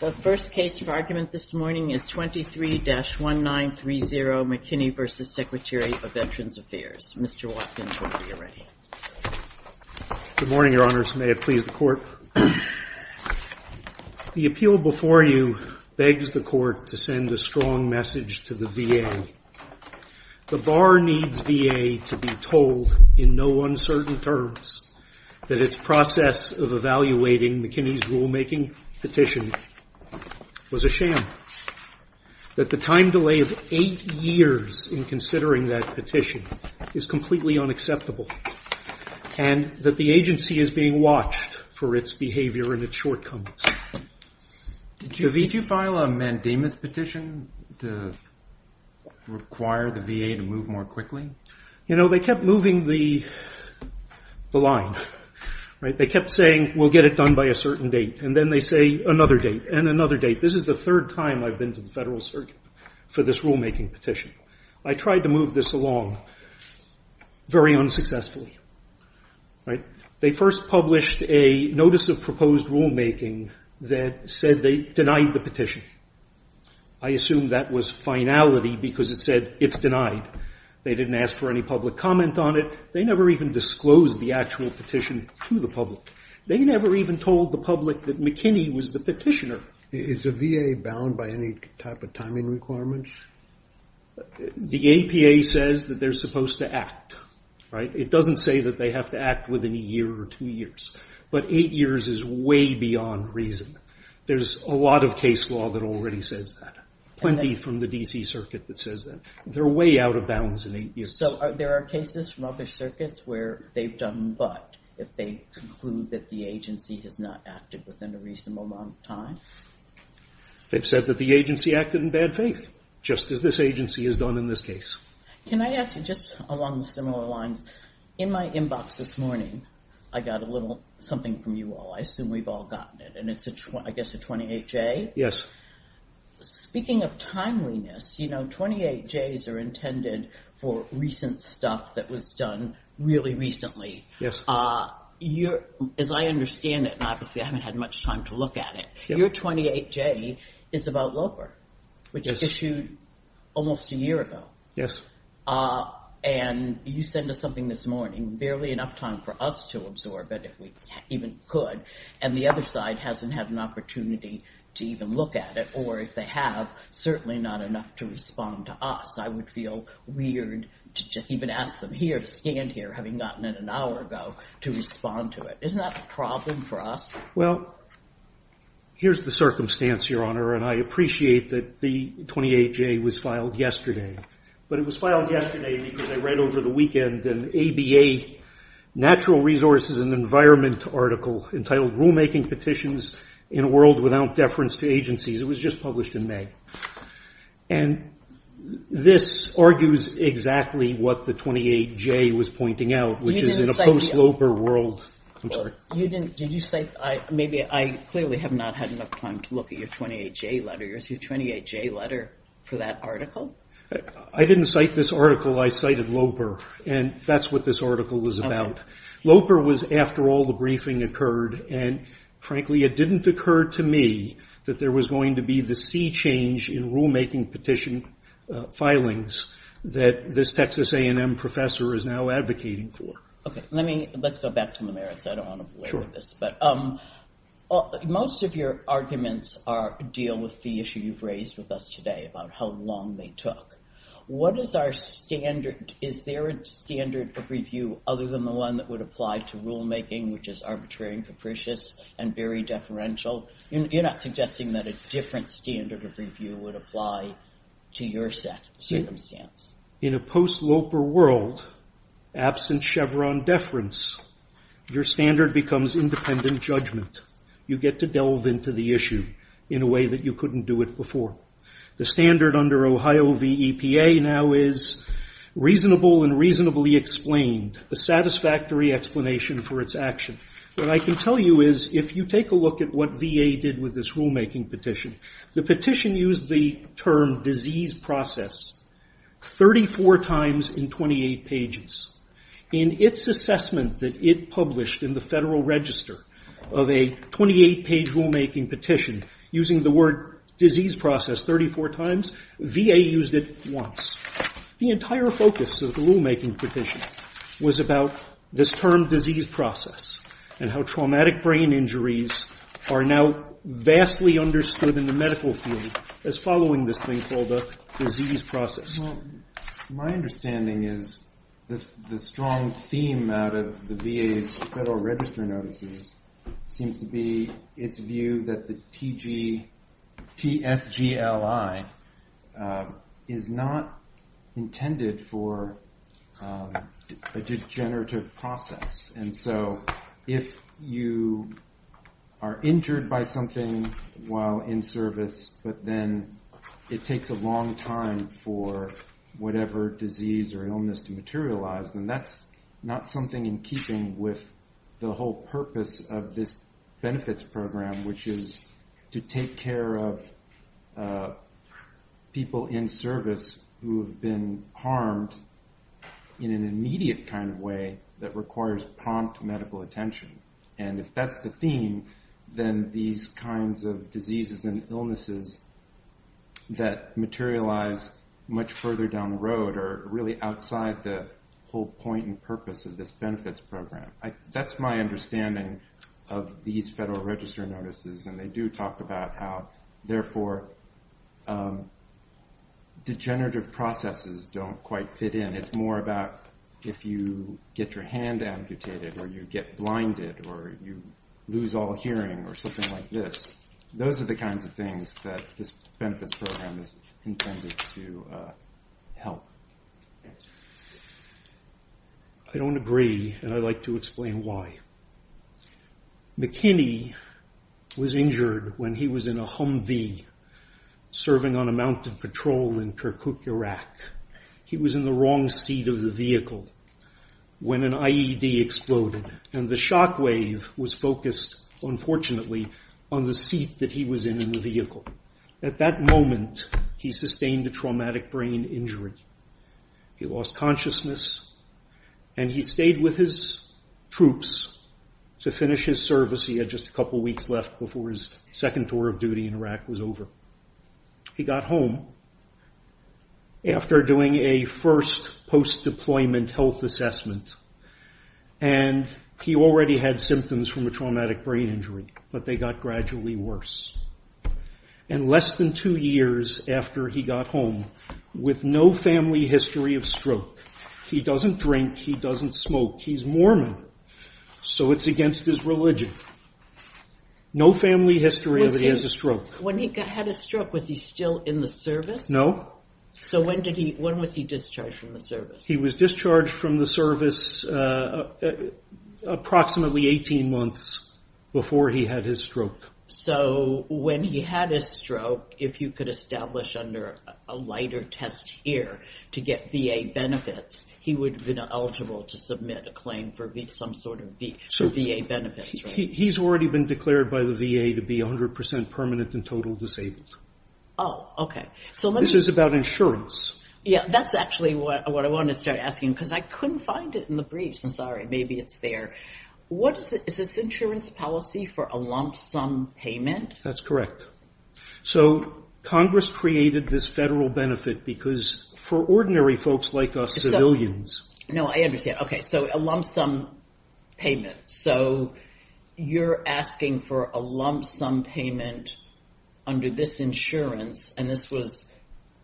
The first case of argument this morning is 23-1930 McKinney v. Secretary of Veterans Affairs. Mr. Watkins, when you're ready. Good morning, Your Honors. May it please the Court. The appeal before you begs the Court to send a strong message to the VA. The Bar needs VA to be told in no uncertain terms that its process of evaluating McKinney's rulemaking petition was a sham, that the time delay of eight years in considering that petition is completely unacceptable, and that the agency is being watched for its behavior and its shortcomings. Did you file a mandamus petition to require the VA to move more quickly? You know, they kept moving the line, right? They kept saying, we'll get it done by a certain date, and then they say another date and another date. This is the third time I've been to the Federal Circuit for this rulemaking petition. I tried to move this along very unsuccessfully, right? They first published a notice of proposed rulemaking that said they denied the petition. I assume that was finality because it said it's denied. They didn't ask for any public comment on it. They never even disclosed the actual petition to the public. They never even told the public that McKinney was the petitioner. Is a VA bound by any type of timing requirements? The APA says that they're supposed to act, right? It doesn't say that they have to act within a year or two years. But eight years is way beyond reason. There's a lot of case law that already says that, plenty from the DC Circuit that says that. They're way out of bounds in eight years. So there are cases from other circuits where they've done but, if they conclude that the agency has not acted within a reasonable amount of time? They've said that the agency acted in bad faith, just as this agency has done in this case. Can I ask you, just along similar lines, in my inbox this morning, I got a little something from you all. I assume we've all gotten it, and it's, I guess, a 28-J? Yes. Speaking of timeliness, you know, 28-Js are intended for recent stuff that was done really recently. As I understand it, and obviously I haven't had much time to look at it, your 28-J is about Loper, which was issued almost a year ago. Yes. And you sent us something this morning, barely enough time for us to absorb it, if we even could. And the other side hasn't had an opportunity to even look at it, or if they have, certainly not enough to respond to us. I would feel weird to even ask them here, to stand here, having gotten it an hour ago, to respond to it. Isn't that a problem for us? Well, here's the circumstance, Your Honor, and I appreciate that the 28-J was filed yesterday. But it was filed yesterday because I read over the weekend an ABA Natural Resources and Environment article entitled Rulemaking Petitions in a World Without Deference to Agencies. It was just published in May. And this argues exactly what the 28-J was pointing out, which is in a post-Loper world. I'm sorry. Did you cite, maybe, I clearly have not had enough time to look at your 28-J letter, your 28-J letter for that article? I didn't cite this article, I cited Loper. And that's what this article was about. Loper was after all the briefing occurred, and frankly, it didn't occur to me that there was going to be the sea change in rulemaking petition filings that this Texas A&M professor is now advocating for. OK, let's go back to the merits. I don't want to belabor this, but most of your arguments deal with the issue you've raised with us today about how long they took. What is our standard? Is there a standard of review other than the one that would apply to rulemaking, which is arbitrary and capricious and very deferential? You're not suggesting that a different standard of review would apply to your circumstance. In a post-Loper world, absent Chevron deference, your standard becomes independent judgment. You get to delve into the issue in a way that you couldn't do it before. The standard under Ohio V. EPA now is reasonable and reasonably explained, a satisfactory explanation for its action. What I can tell you is if you take a look at what VA did with this rulemaking petition, the petition used the term disease process 34 times in 28 pages. In its assessment that it published in the Federal Register of a 28-page rulemaking petition using the word disease process 34 times, VA used it once. The entire focus of the rulemaking petition was about this term disease process and how traumatic brain injuries are now vastly understood in the medical field as following this thing called a disease process. My understanding is the strong theme out of the VA's Federal Register notices seems to be its view that the TSGLI is not intended for a degenerative process. And so if you are injured by something while in service, but then it takes a long time for whatever disease or illness to materialize, then that's not something in keeping with the whole purpose of this benefits program, which is to take care of people in service who have been harmed in an immediate kind of way that requires prompt medical attention. And if that's the theme, then these kinds of diseases and illnesses that materialize much further down the road are really outside the whole point and purpose of this benefits program. That's my understanding of these Federal Register notices. And they do talk about how, therefore, degenerative processes don't quite fit in. It's more about if you get your hand amputated, or you get blinded, or you lose all hearing, or something like this. Those are the kinds of things that this benefits program is intended to help. I don't agree, and I'd like to explain why. McKinney was injured when he was in a Humvee serving on a mountain patrol in Kirkuk, Iraq. He was in the wrong seat of the vehicle when an IED exploded. And the shockwave was focused, unfortunately, on the seat that he was in the vehicle. At that moment, he sustained a traumatic brain injury. He lost consciousness, and he stayed with his troops to finish his service. He had just a couple weeks left before his second tour of duty in Iraq was over. He got home after doing a first post-deployment health assessment. And he already had symptoms from a traumatic brain injury, but they got gradually worse. And less than two years after he got home, with no family history of stroke, he doesn't drink, he doesn't smoke. He's Mormon, so it's against his religion. No family history of a stroke. When he had a stroke, was he still in the service? No. So when was he discharged from the service? He was discharged from the service approximately 18 months before he had his stroke. So when he had his stroke, if you could establish under a lighter test here to get VA benefits, he would have been eligible to submit a claim for some sort of VA benefits, right? He's already been declared by the VA to be 100% permanent and total disabled. Oh, OK. So this is about insurance. Yeah, that's actually what I wanted to start asking, because I couldn't find it in the briefs. I'm sorry. Maybe it's there. What is this insurance policy for a lump sum payment? That's correct. So Congress created this federal benefit because for ordinary folks like us, civilians. No, I understand. OK, so a lump sum payment. So you're asking for a lump sum payment under this insurance, and this was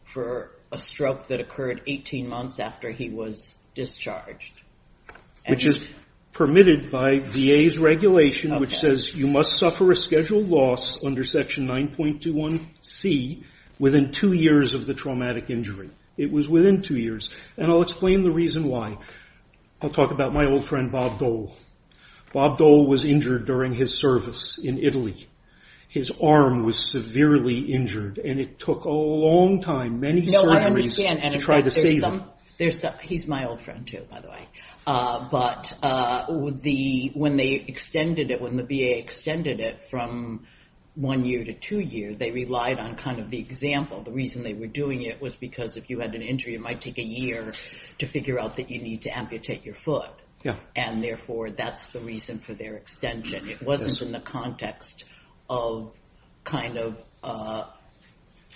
for a stroke that occurred 18 months after he was discharged. Which is permitted by VA's regulation, which says you must suffer a scheduled loss under Section 9.21C within two years of the traumatic injury. It was within two years. And I'll explain the reason why. I'll talk about my old friend Bob Dole. Bob Dole was injured during his service in Italy. His arm was severely injured, and it took a long time, many surgeries, to try to save him. He's my old friend, too, by the way. But when the VA extended it from one year to two years, they relied on kind of the example. The reason they were doing it was because if you had an injury, it might take a year to figure out that you need to amputate your foot. And therefore, that's the reason for their extension. It wasn't in the context of kind of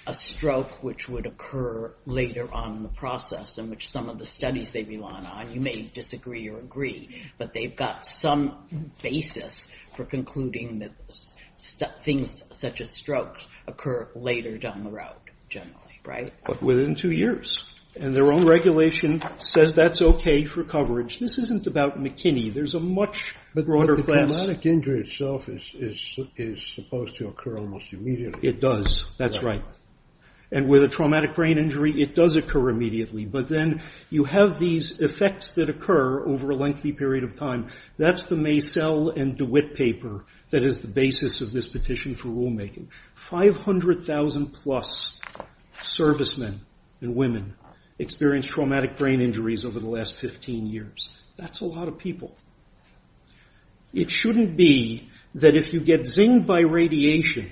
a stroke which would occur later on in the process, in which some of the studies they rely on. You may disagree or agree, but they've got some basis for concluding that things such as strokes occur later down the road, generally. But within two years. And their own regulation says that's OK for coverage. This isn't about McKinney. There's a much broader class. But the traumatic injury itself is supposed to occur almost immediately. It does. That's right. And with a traumatic brain injury, it does occur immediately. But then you have these effects that occur over a lengthy period of time. That's the Macell and DeWitt paper that is the basis of this petition for rulemaking. 500,000 plus servicemen and women experience traumatic brain injuries over the last 15 years. That's a lot of people. It shouldn't be that if you get zinged by radiation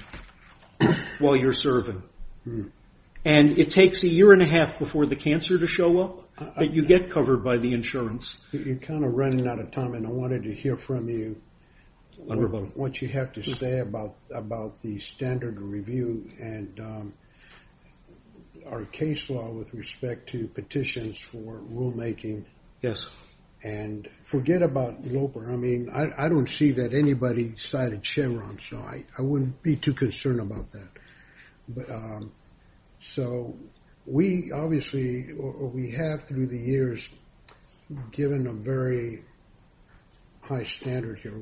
while you're serving, and it takes a year and a half before the cancer to show up, that you get covered by the insurance. You're kind of running out of time. And I wanted to hear from you what you have to say about the standard review and our case law with respect to petitions for rulemaking. And forget about Loper. I mean, I don't see that anybody cited Chevron. So I wouldn't be too concerned about that. So we obviously, or we have through the years, given a very high standard here,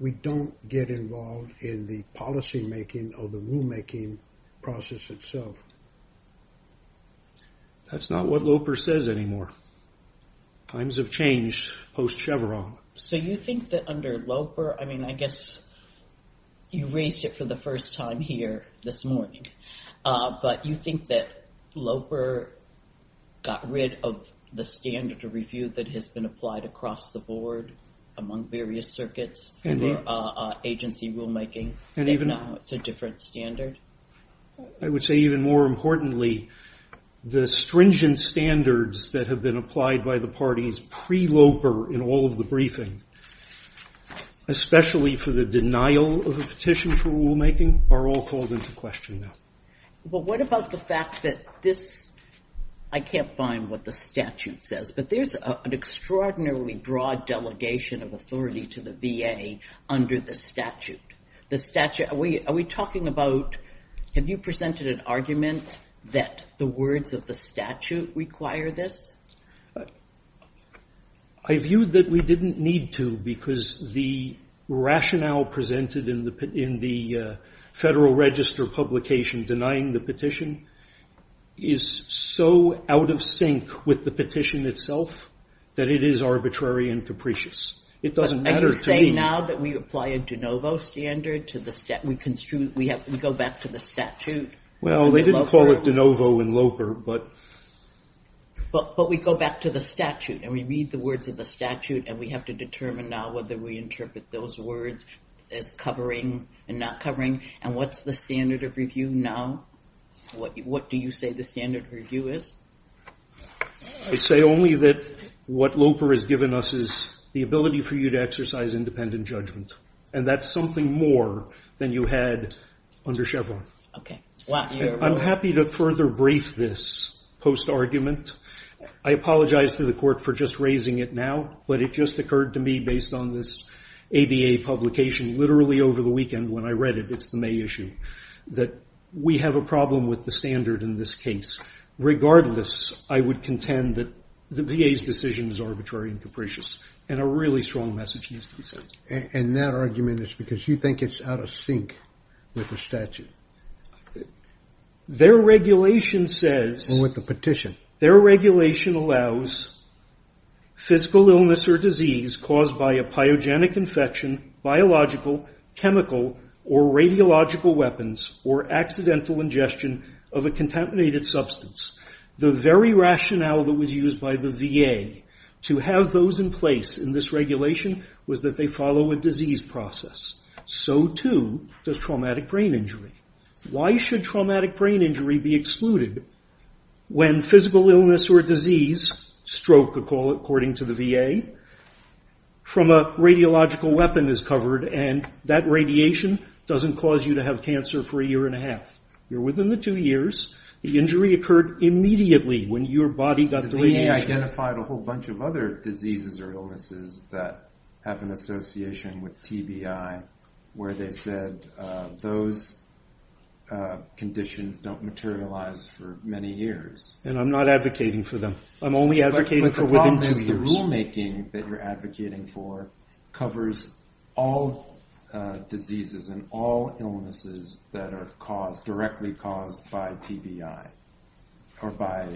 we don't get involved in the policymaking or the rulemaking process itself. That's not what Loper says anymore. Times have changed post-Chevron. So you think that under Loper, I mean, I guess you raised it for the first time here this morning. But you think that Loper got rid of the standard to review that has been applied across the board among various circuits? And agency rulemaking. And even now it's a different standard. I would say even more importantly, the stringent standards that have been applied by the parties pre-Loper in all of the briefing, especially for the denial of a petition for rulemaking, are all called into question now. But what about the fact that this, I can't find what the statute says, but there's an extraordinarily broad delegation of authority to the VA under the statute. The statute, are we talking about, have you presented an argument that the words of the statute require this? I view that we didn't need to because the rationale presented in the Federal Register publication denying the petition is so out of sync with the petition itself that it is arbitrary and capricious. It doesn't matter to me. Are you saying now that we apply a de novo standard to the, we have to go back to the statute? Well, they didn't call it de novo in Loper, but. But we go back to the statute and we read the words of the statute and we have to determine now whether we interpret those words as covering and not covering. And what's the standard of review now? What do you say the standard review is? I say only that what Loper has given us is the ability for you to exercise independent judgment. And that's something more than you had under Chevron. Okay. I'm happy to further brief this post argument. I apologize to the court for just raising it now, but it just occurred to me based on this ABA publication, literally over the weekend when I read it, it's the May issue, that we have a problem with the standard in this case. Regardless, I would contend that the VA's decision is arbitrary and capricious and a really strong message needs to be said. And that argument is because you think it's out of sync with the statute? Their regulation says... And with the petition. Their regulation allows physical illness or disease caused by a pyogenic infection, biological, chemical, or radiological weapons, or accidental ingestion of a contaminated substance. The very rationale that was used by the VA to have those in place in this regulation was that they follow a disease process. So too does traumatic brain injury. Why should traumatic brain injury be excluded when physical illness or disease, stroke according to the VA, from a radiological weapon is covered and that radiation doesn't cause you to have cancer for a year and a half? You're within the two years. The injury occurred immediately when your body got the radiation. The VA identified a whole bunch of other diseases or illnesses that have an association with TBI where they said those conditions don't materialize for many years. And I'm not advocating for them. I'm only advocating for within two years. But the problem is the rulemaking that you're advocating for covers all diseases and all illnesses that are caused, directly caused by TBI or by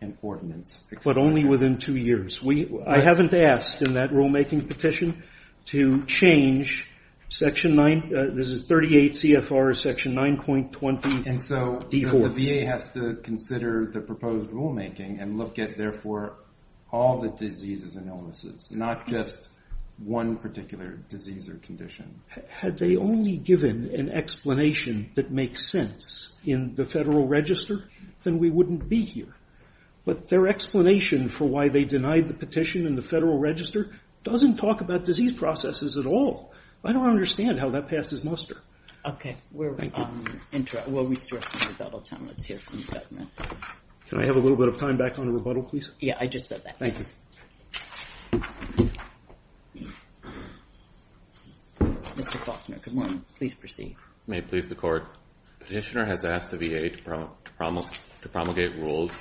an ordinance exception. But only within two years. We, I haven't asked in that rulemaking petition to change Section 9, this is 38 CFR Section 9.20D4. And so the VA has to consider the proposed rulemaking and look at therefore all the diseases and illnesses, not just one particular disease or condition. Had they only given an explanation that makes sense in the Federal Register, then we wouldn't be here. But their explanation for why they denied the petition in the Federal Register doesn't talk about disease processes at all. I don't understand how that passes muster. Okay. We'll restore some rebuttal time. Let's hear from the government. Can I have a little bit of time back on the rebuttal, please? Yeah, I just said that. Thank you. Mr. Faulkner, good morning. Please proceed. May it please the Court. Petitioner has asked the VA to promulgate rules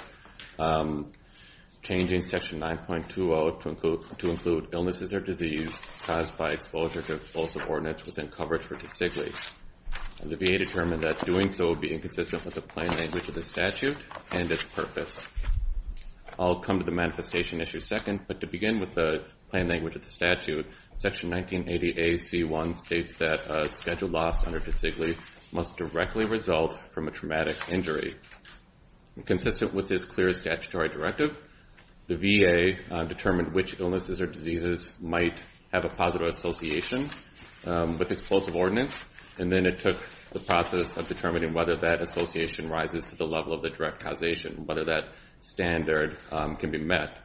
changing Section 9.20 to include illnesses or disease caused by exposure to explosive ordinance within coverage for desiccant. And the VA determined that doing so would be inconsistent with the plain language of the statute and its purpose. I'll come to the manifestation issue second, but to begin with the plain language of the statute, Section 1980AC1 states that a scheduled loss under desiccant must directly result from a traumatic injury. Consistent with this clear statutory directive, the VA determined which illnesses or diseases might have a positive association with explosive ordinance. And then it took the process of determining whether that association rises to the level of the direct causation, whether that standard can be met.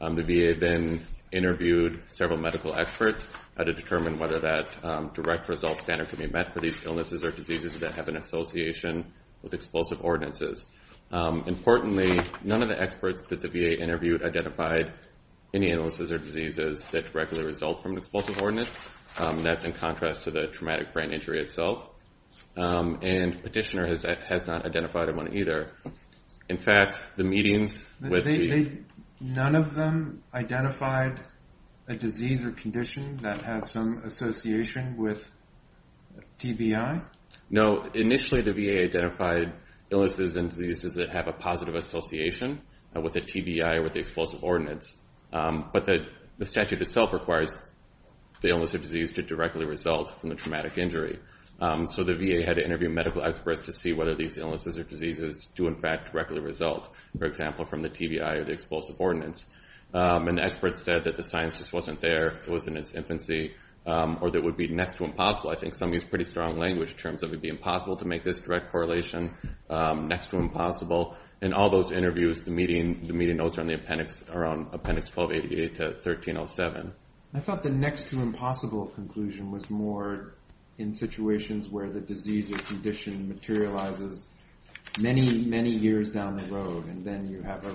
The VA then interviewed several medical experts to determine whether that direct result standard can be met for these illnesses or diseases that have an association with explosive ordinances. Importantly, none of the experts that the VA interviewed identified any illnesses or diseases that directly result from explosive ordinance. That's in contrast to the traumatic brain injury itself. And Petitioner has not identified one either. In fact, the meetings with the... None of them identified a disease or condition that has some association with TBI? No. Initially, the VA identified illnesses and diseases that have a positive association with a TBI or with the explosive ordinance. But the statute itself requires the illness or disease to directly result from the traumatic injury. So the VA had to interview medical experts to see whether these illnesses or diseases do in fact directly result, for example, from the TBI or the explosive ordinance. And the experts said that the science just wasn't there, it was in its infancy, or that it would be next to impossible. I think some use pretty strong language in terms of it would be impossible to make this direct correlation next to impossible. In all those interviews, the meeting notes from the appendix around appendix 1288 to 1307. I thought the next to impossible conclusion was more in situations where the disease or condition materializes many, many years down the road. And then you have a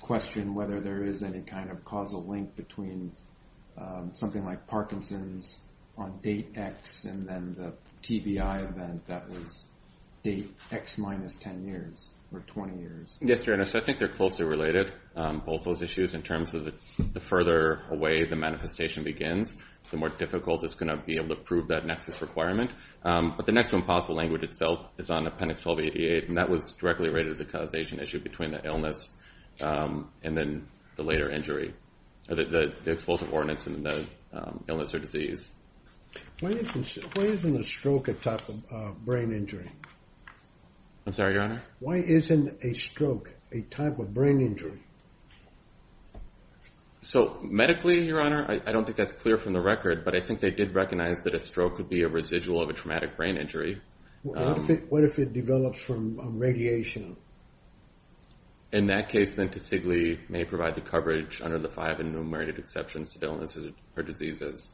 question whether there is any kind of causal link between something like Parkinson's on date X and then the TBI event that was date X minus 10 years or 20 years. Yes, so I think they're closely related, both those issues in terms of the further away the manifestation begins, the more difficult it's going to be able to prove that nexus requirement. But the next to impossible language itself is on appendix 1288, and that was directly related to the causation issue between the illness and then the later injury, the explosive ordinance and the illness or disease. Why isn't a stroke a type of brain injury? I'm sorry, Your Honor? Why isn't a stroke a type of brain injury? So medically, Your Honor, I don't think that's clear from the record, but I think they did recognize that a stroke could be a residual of a traumatic brain injury. What if it develops from radiation? In that case, then, to CIGLI may provide the coverage under the five enumerated exceptions to the illness or diseases.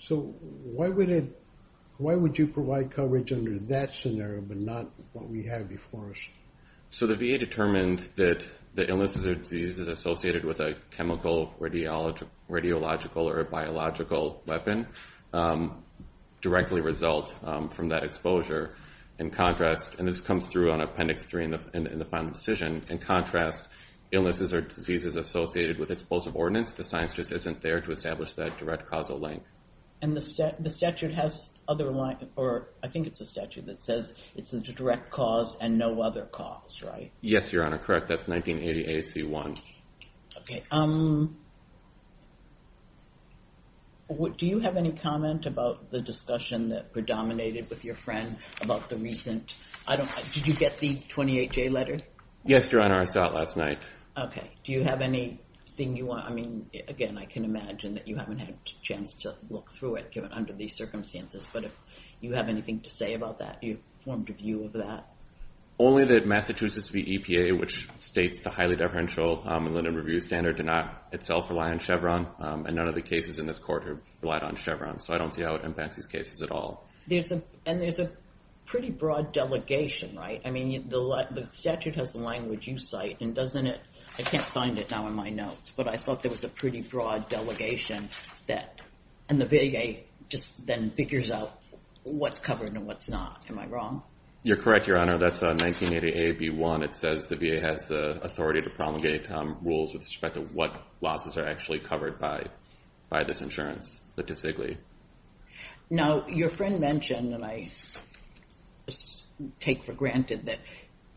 So why would you provide coverage under that scenario but not what we have before us? So the VA determined that the illness or disease is associated with a chemical, radiological, or a biological weapon. Directly result from that exposure. In contrast, and this comes through on appendix three in the final decision, in contrast, illnesses or diseases associated with explosive ordinance, the science just isn't there to establish that direct causal link. And the statute has other lines, or I think it's a statute that says it's a direct cause and no other cause, right? Yes, Your Honor, correct. That's 1980 AAC1. Okay. Do you have any comment about the discussion that predominated with your friend about the recent, I don't, did you get the 28-J letter? Yes, Your Honor, I saw it last night. Okay. Do you have anything you want, I mean, again, I can imagine that you haven't had a chance to look through it given under these circumstances, but if you have anything to say about that, you formed a view of that? Only that Massachusetts VEPA, which states the highly deferential and limited review standard did not itself rely on Chevron, and none of the cases in this court relied on Chevron. So I don't see how it impacts these cases at all. There's a, and there's a pretty broad delegation, right? I mean, the statute has the language you cite, and doesn't it, I can't find it now in my notes, but I thought there was a pretty broad delegation that, and the VA just then figures out what's covered and what's not. Am I wrong? You're correct, Your Honor. Your Honor, that's 1988B1. It says the VA has the authority to promulgate rules with respect to what losses are actually covered by this insurance statistically. Now, your friend mentioned, and I take for granted that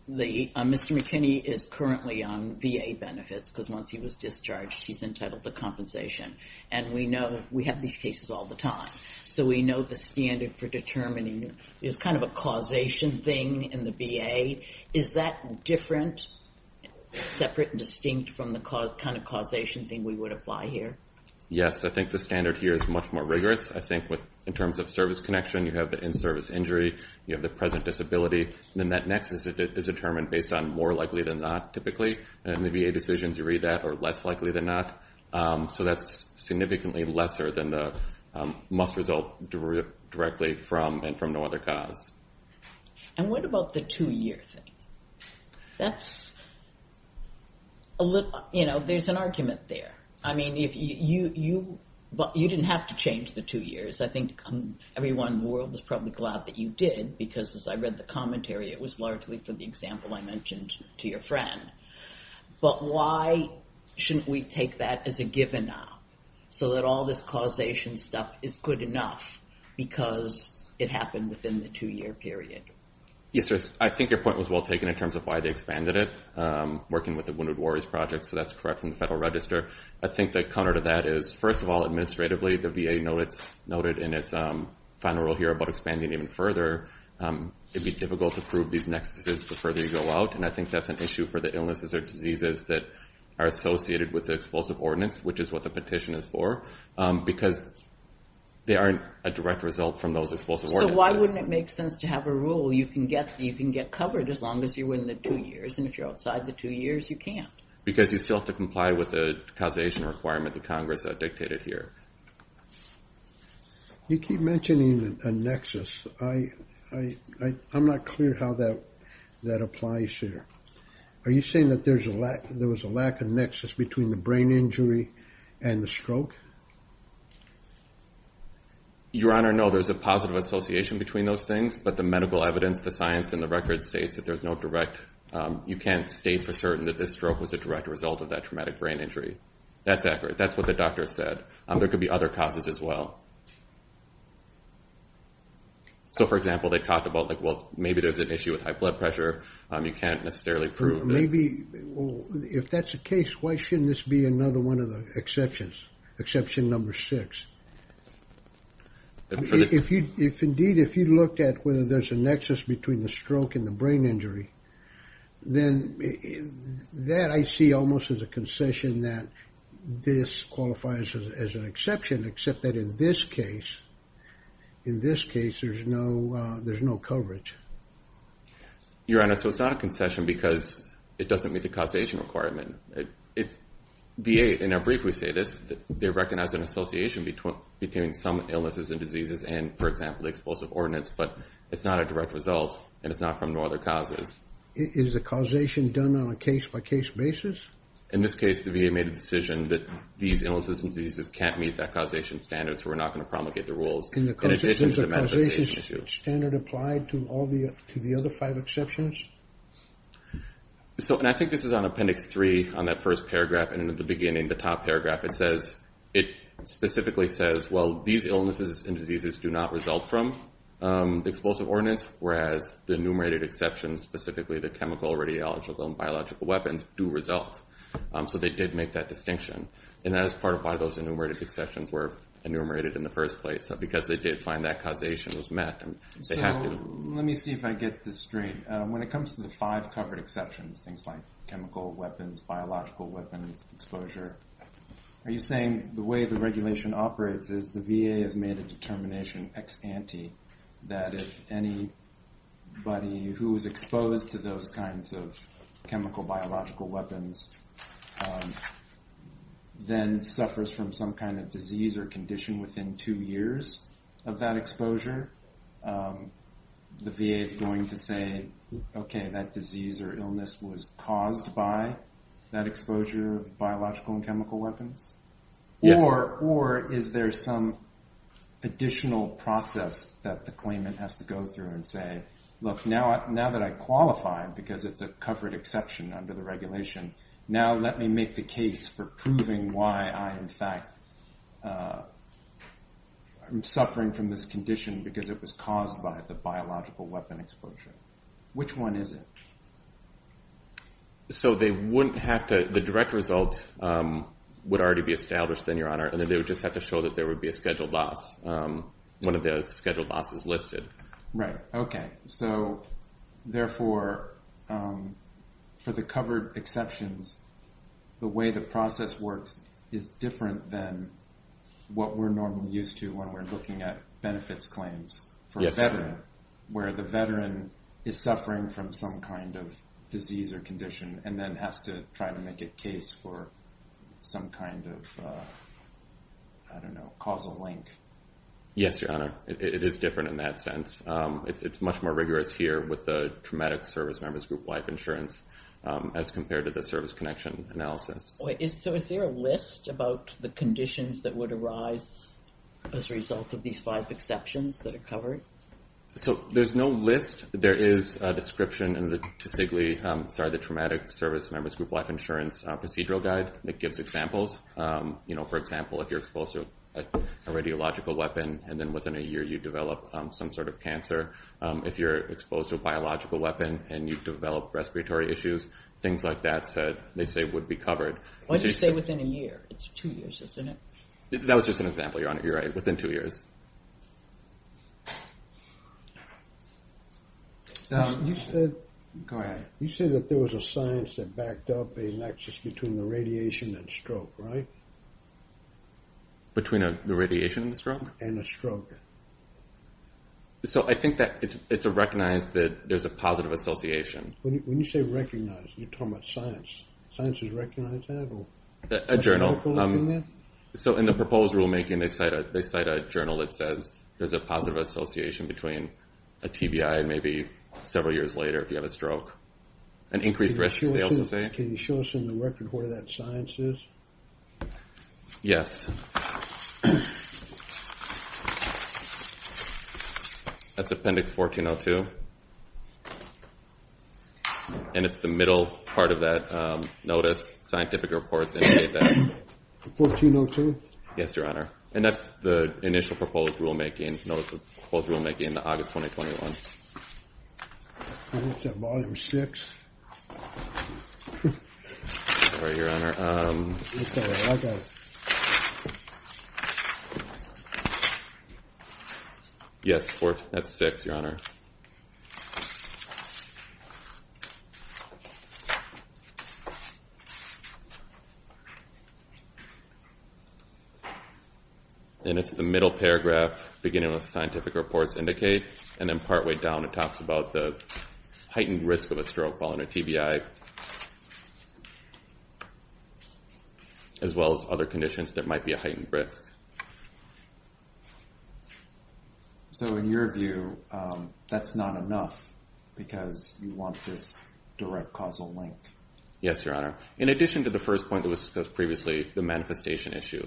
Mr. McKinney is currently on VA benefits because once he was discharged, he's entitled to compensation. And we know that we have these cases all the time. So we know the standard for determining is kind of a causation thing in the VA. Is that different, separate and distinct from the kind of causation thing we would apply here? Yes, I think the standard here is much more rigorous. I think with, in terms of service connection, you have the in-service injury, you have the present disability. Then that next is determined based on more likely than not typically, and the VA decisions you read that are less likely than not. So that's significantly lesser than the must result directly from and from no other cause. And what about the two-year thing? That's a little, you know, there's an argument there. I mean, if you, but you didn't have to change the two years. I think everyone in the world was probably glad that you did because as I read the commentary, it was largely for the example I mentioned to your friend. But why shouldn't we take that as a given now so that all this causation stuff is good enough because it happened within the two-year period? Yes, I think your point was well taken in terms of why they expanded it, working with the Wounded Warriors Project. So that's correct from the Federal Register. I think the counter to that is, first of all, administratively, the VA noted in its final rule here about expanding even further. It'd be difficult to prove these nexuses the further you go out. And I think that's an issue for the illnesses or diseases that are associated with the explosive ordinance, which is what the petition is for. Because they aren't a direct result from those explosive ordinances. So why wouldn't it make sense to have a rule? You can get covered as long as you're within the two years. And if you're outside the two years, you can't. Because you still have to comply with the causation requirement that Congress dictated here. You keep mentioning a nexus. I'm not clear how that applies here. Are you saying that there was a lack of nexus between the brain injury and the stroke? Your Honor, no. There's a positive association between those things. But the medical evidence, the science, and the record states that there's no direct, you can't state for certain that this stroke was a direct result of that traumatic brain injury. That's accurate. That's what the doctor said. There could be other causes as well. So, for example, they talked about, like, well, maybe there's an issue with high blood pressure. You can't necessarily prove that. Maybe, if that's the case, why shouldn't this be another one of the exceptions, exception number six? Indeed, if you looked at whether there's a nexus between the stroke and the brain injury, then that I see almost as a concession that this qualifies as an exception, except that in this case, in this case, there's no coverage. Your Honor, so it's not a concession because it doesn't meet the causation requirement. VA, in our brief, we say this, they recognize an association between some illnesses and diseases and, for example, the explosive ordnance, but it's not a direct result and it's not from no other causes. Is the causation done on a case-by-case basis? In this case, the VA made a decision that these illnesses and diseases can't meet that causation standard, so we're not going to promulgate the rules in addition to the manifestation issue. Is the causation standard applied to the other five exceptions? So, and I think this is on Appendix 3 on that first paragraph, and in the beginning, the top paragraph, it says, it specifically says, well, these illnesses and diseases do not result from the explosive ordnance, whereas the enumerated exceptions, specifically the chemical, radiological, and biological weapons do result. So they did make that distinction, and that is part of why those enumerated exceptions were enumerated in the first place, because they did find that causation was met. So let me see if I get this straight. When it comes to the five covered exceptions, things like chemical weapons, biological weapons, exposure, are you saying the way the regulation operates is the VA has made a determination ex ante that if anybody who is exposed to those kinds of chemical, biological weapons then suffers from some kind of disease or condition within two years of that exposure, the VA is going to say, okay, that disease or illness was caused by that exposure of biological and chemical weapons? Or is there some additional process that the claimant has to go through and say, look, now that I qualify, because it's a covered exception under the regulation, now let me make the case for proving why I, in fact, am suffering from this condition because it was caused by the biological weapon exposure. Which one is it? So they wouldn't have to, the direct result would already be established then, Your Honor, and then they would just have to show that there would be a scheduled loss, one of those scheduled losses listed. Right, okay. So therefore, for the covered exceptions, the way the process works is different than what we're normally used to when we're looking at benefits claims for a veteran, where the veteran is suffering from some kind of disease or condition and then has to try to make a case for some kind of, I don't know, causal link. Yes, Your Honor, it is different in that sense. It's much more rigorous here with the traumatic service members group life insurance as compared to the service connection analysis. So is there a list about the conditions that would arise as a result of these five exceptions that are covered? So there's no list. There is a description in the TSIGLI, sorry, the Traumatic Service Members Group Life Insurance Procedural Guide that gives examples. For example, if you're exposed to a radiological weapon and then within a year you develop some sort of cancer. If you're exposed to a biological weapon and you develop respiratory issues, things like that said, they say would be covered. What do you say within a year? It's two years, isn't it? That was just an example, Your Honor. You're right, within two years. You said- Go ahead. You said that there was a science that backed up a nexus between the radiation and stroke, right? Between the radiation and the stroke? And the stroke. So I think that it's recognized that there's a positive association. When you say recognized, you're talking about science. Sciences recognize that or? A journal. So in the proposed rulemaking they cite a journal that says there's a positive association between a TBI and maybe several years later if you have a stroke. An increased risk, they also say. Can you show us in the record where that science is? Yes. That's Appendix 1402. And it's the middle part of that notice, scientific reports indicate that. 1402? Yes, Your Honor. And that's the initial proposed rulemaking, notice of proposed rulemaking, in August 2021. I thought that was six. Sorry, Your Honor. It's all right, I got it. Yes, that's six, Your Honor. And it's the middle paragraph, beginning with scientific reports indicate, and then partway down it talks about the heightened risk of a stroke following a TBI, as well as other conditions that might be a heightened risk. So in your view, that's not enough because you want this direct causal link. Yes, Your Honor. In addition to the first point that was discussed previously, the manifestation issue,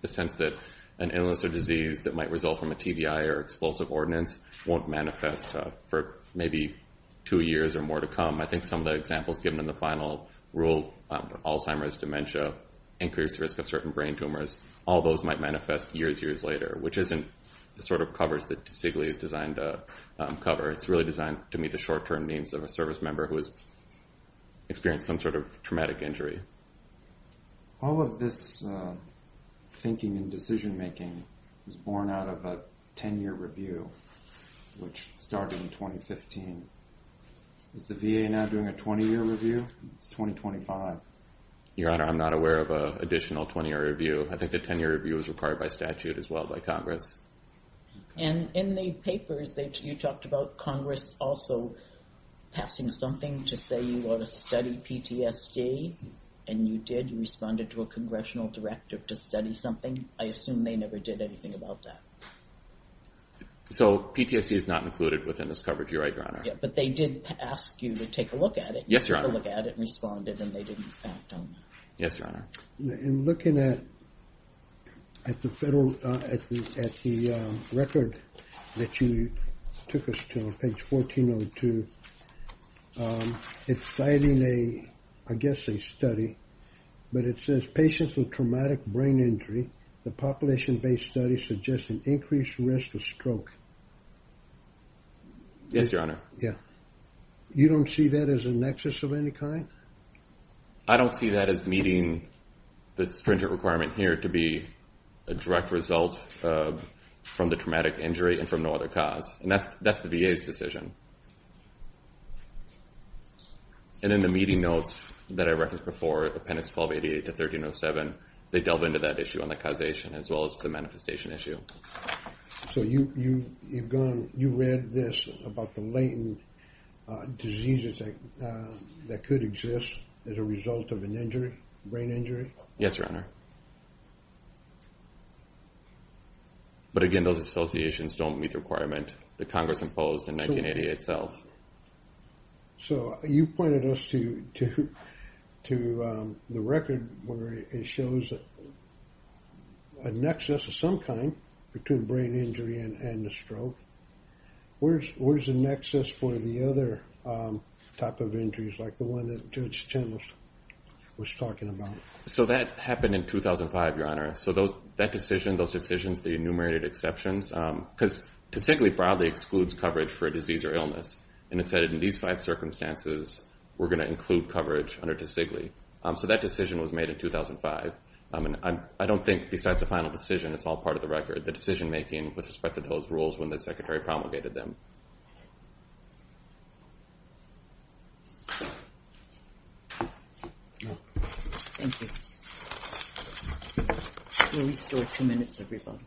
the sense that an illness or disease that might result from a TBI or explosive ordinance won't manifest for maybe two years or more to come. I think some of the examples given in the final rule, Alzheimer's, dementia, increased risk of certain brain tumors, all those might manifest years, years later, which isn't the sort of covers that Sigley is designed to cover. It's really designed to meet the short-term needs of a service member who has experienced some sort of traumatic injury. All of this thinking and decision-making was born out of a 10-year review, which started in 2015. Is the VA now doing a 20-year review? It's 2025. Your Honor, I'm not aware of a additional 20-year review. I think the 10-year review is required by statute as well by Congress. And in the papers, you talked about Congress also passing something to say you ought to study PTSD, and you did. You responded to a congressional directive to study something. I assume they never did anything about that. So PTSD is not included within this coverage, you're right, Your Honor. Yeah, but they did ask you to take a look at it. Yes, Your Honor. You took a look at it and responded, and they didn't act on that. Yes, Your Honor. In looking at the record that you took us to on page 1402, it's citing a, I guess a study, but it says patients with traumatic brain injury, the population-based study suggests an increased risk of stroke. Yes, Your Honor. Yeah. You don't see that as a nexus of any kind? I don't see that as meeting the stringent requirement here to be a direct result from the traumatic injury and from no other cause. And that's the VA's decision. And in the meeting notes that I referenced before, Appendix 1288 to 1307, they delve into that issue on the causation as well as the manifestation issue. So you've gone, you read this about the latent diseases that could exist as a result of an injury, brain injury? Yes, Your Honor. But again, those associations don't meet the requirement that Congress imposed in 1980 itself. So you pointed us to the record where it shows a nexus of some kind between brain injury and the stroke. Where's the nexus for the other type of injuries like the one that Judge Chenell was talking about? So that happened in 2005, Your Honor. So that decision, those decisions, the enumerated exceptions, because TOSIGLI broadly excludes coverage for a disease or illness. And it said in these five circumstances, we're gonna include coverage under TOSIGLI. So that decision was made in 2005. And I don't think besides the final decision, it's all part of the record, the decision making with respect to those rules when the Secretary promulgated them. Thank you. Thank you. You're restored two minutes, everybody.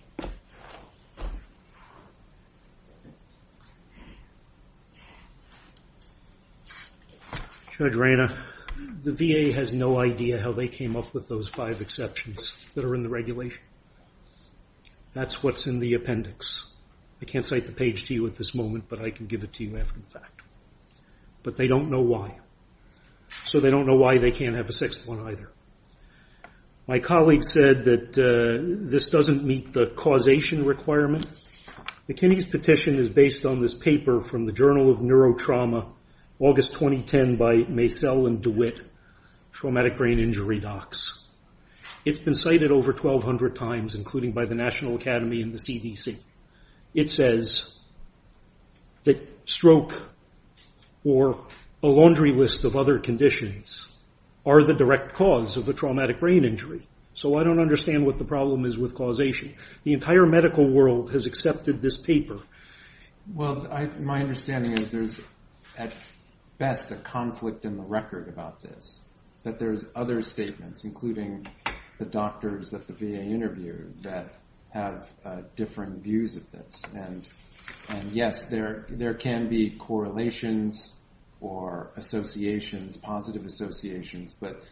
Judge Reyna, the VA has no idea how they came up with those five exceptions that are in the regulation. That's what's in the appendix. I can't cite the page to you at this moment, but I can give it to you after the fact. But they don't know why. So they don't know why they can't have a sixth one either. My colleague said that this doesn't meet the causation requirement. McKinney's petition is based on this paper from the Journal of Neurotrauma, August 2010 by Macell and DeWitt, Traumatic Brain Injury Docs. It's been cited over 1,200 times, including by the National Academy and the CDC. It says that stroke or a laundry list of other conditions are the direct cause of a traumatic brain injury. So I don't understand what the problem is with causation. The entire medical world has accepted this paper. Well, my understanding is there's, at best, a conflict in the record about this, that there's other statements, including the doctors at the VA interview that have different views of this. And yes, there can be correlations or associations, positive associations, but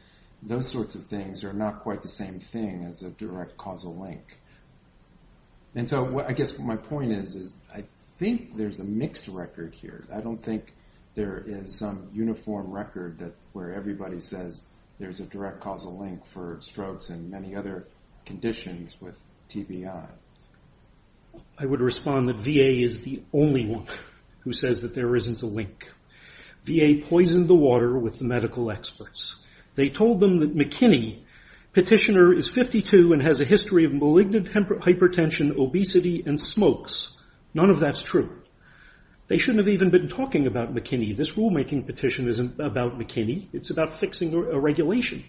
those sorts of things are not quite the same thing as a direct causal link. And so I guess my point is, I think there's a mixed record here. I don't think there is some uniform record where everybody says there's a direct causal link for strokes and many other conditions with TBI. I would respond that VA is the only one who says that there isn't a link. VA poisoned the water with the medical experts. They told them that McKinney, petitioner, is 52 and has a history of malignant hypertension, obesity, and smokes. None of that's true. They shouldn't have even been talking about McKinney. This rulemaking petition isn't about McKinney. It's about fixing a regulation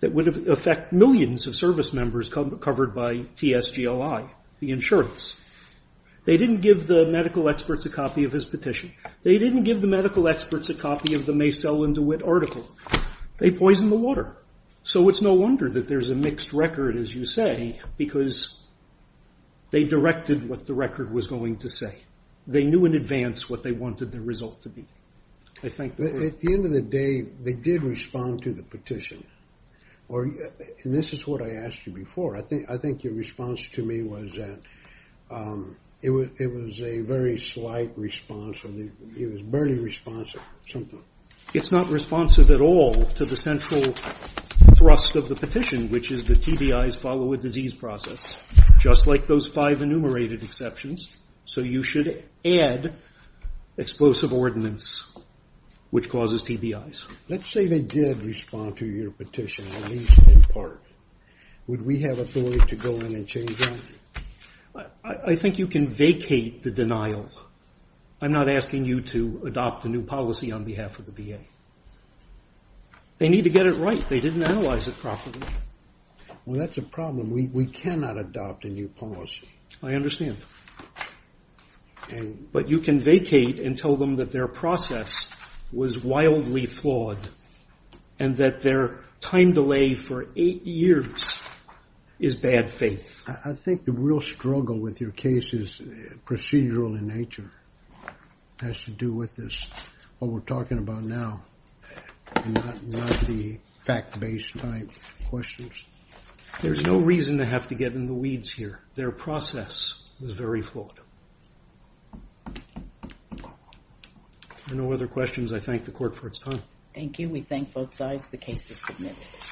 that would affect millions of service members covered by TSGLI, the insurance. They didn't give the medical experts a copy of his petition. They didn't give the medical experts a copy of the Maysell and DeWitt article. They poisoned the water. So it's no wonder that there's a mixed record, as you say, because they directed what the record was going to say. They knew in advance what they wanted the result to be. I think that... At the end of the day, they did respond to the petition. And this is what I asked you before. I think your response to me was that it was a very slight response. It was barely responsive, something. It's not responsive at all to the central thrust of the petition, which is the TBIs follow a disease process, just like those five enumerated exceptions. So you should add explosive ordinance, which causes TBIs. Let's say they did respond to your petition, at least in part. Would we have authority to go in and change that? I think you can vacate the denial. I'm not asking you to adopt a new policy on behalf of the VA. They need to get it right. They didn't analyze it properly. Well, that's a problem. We cannot adopt a new policy. I understand. But you can vacate and tell them that their process was wildly flawed and that their time delay for eight years is bad faith. I think the real struggle with your case is procedural in nature. It has to do with this, what we're talking about now, and not the fact-based type questions. There's no reason to have to get in the weeds here. Their process was very flawed. If there are no other questions, I thank the court for its time. Thank you. We thank both sides. The case is submitted.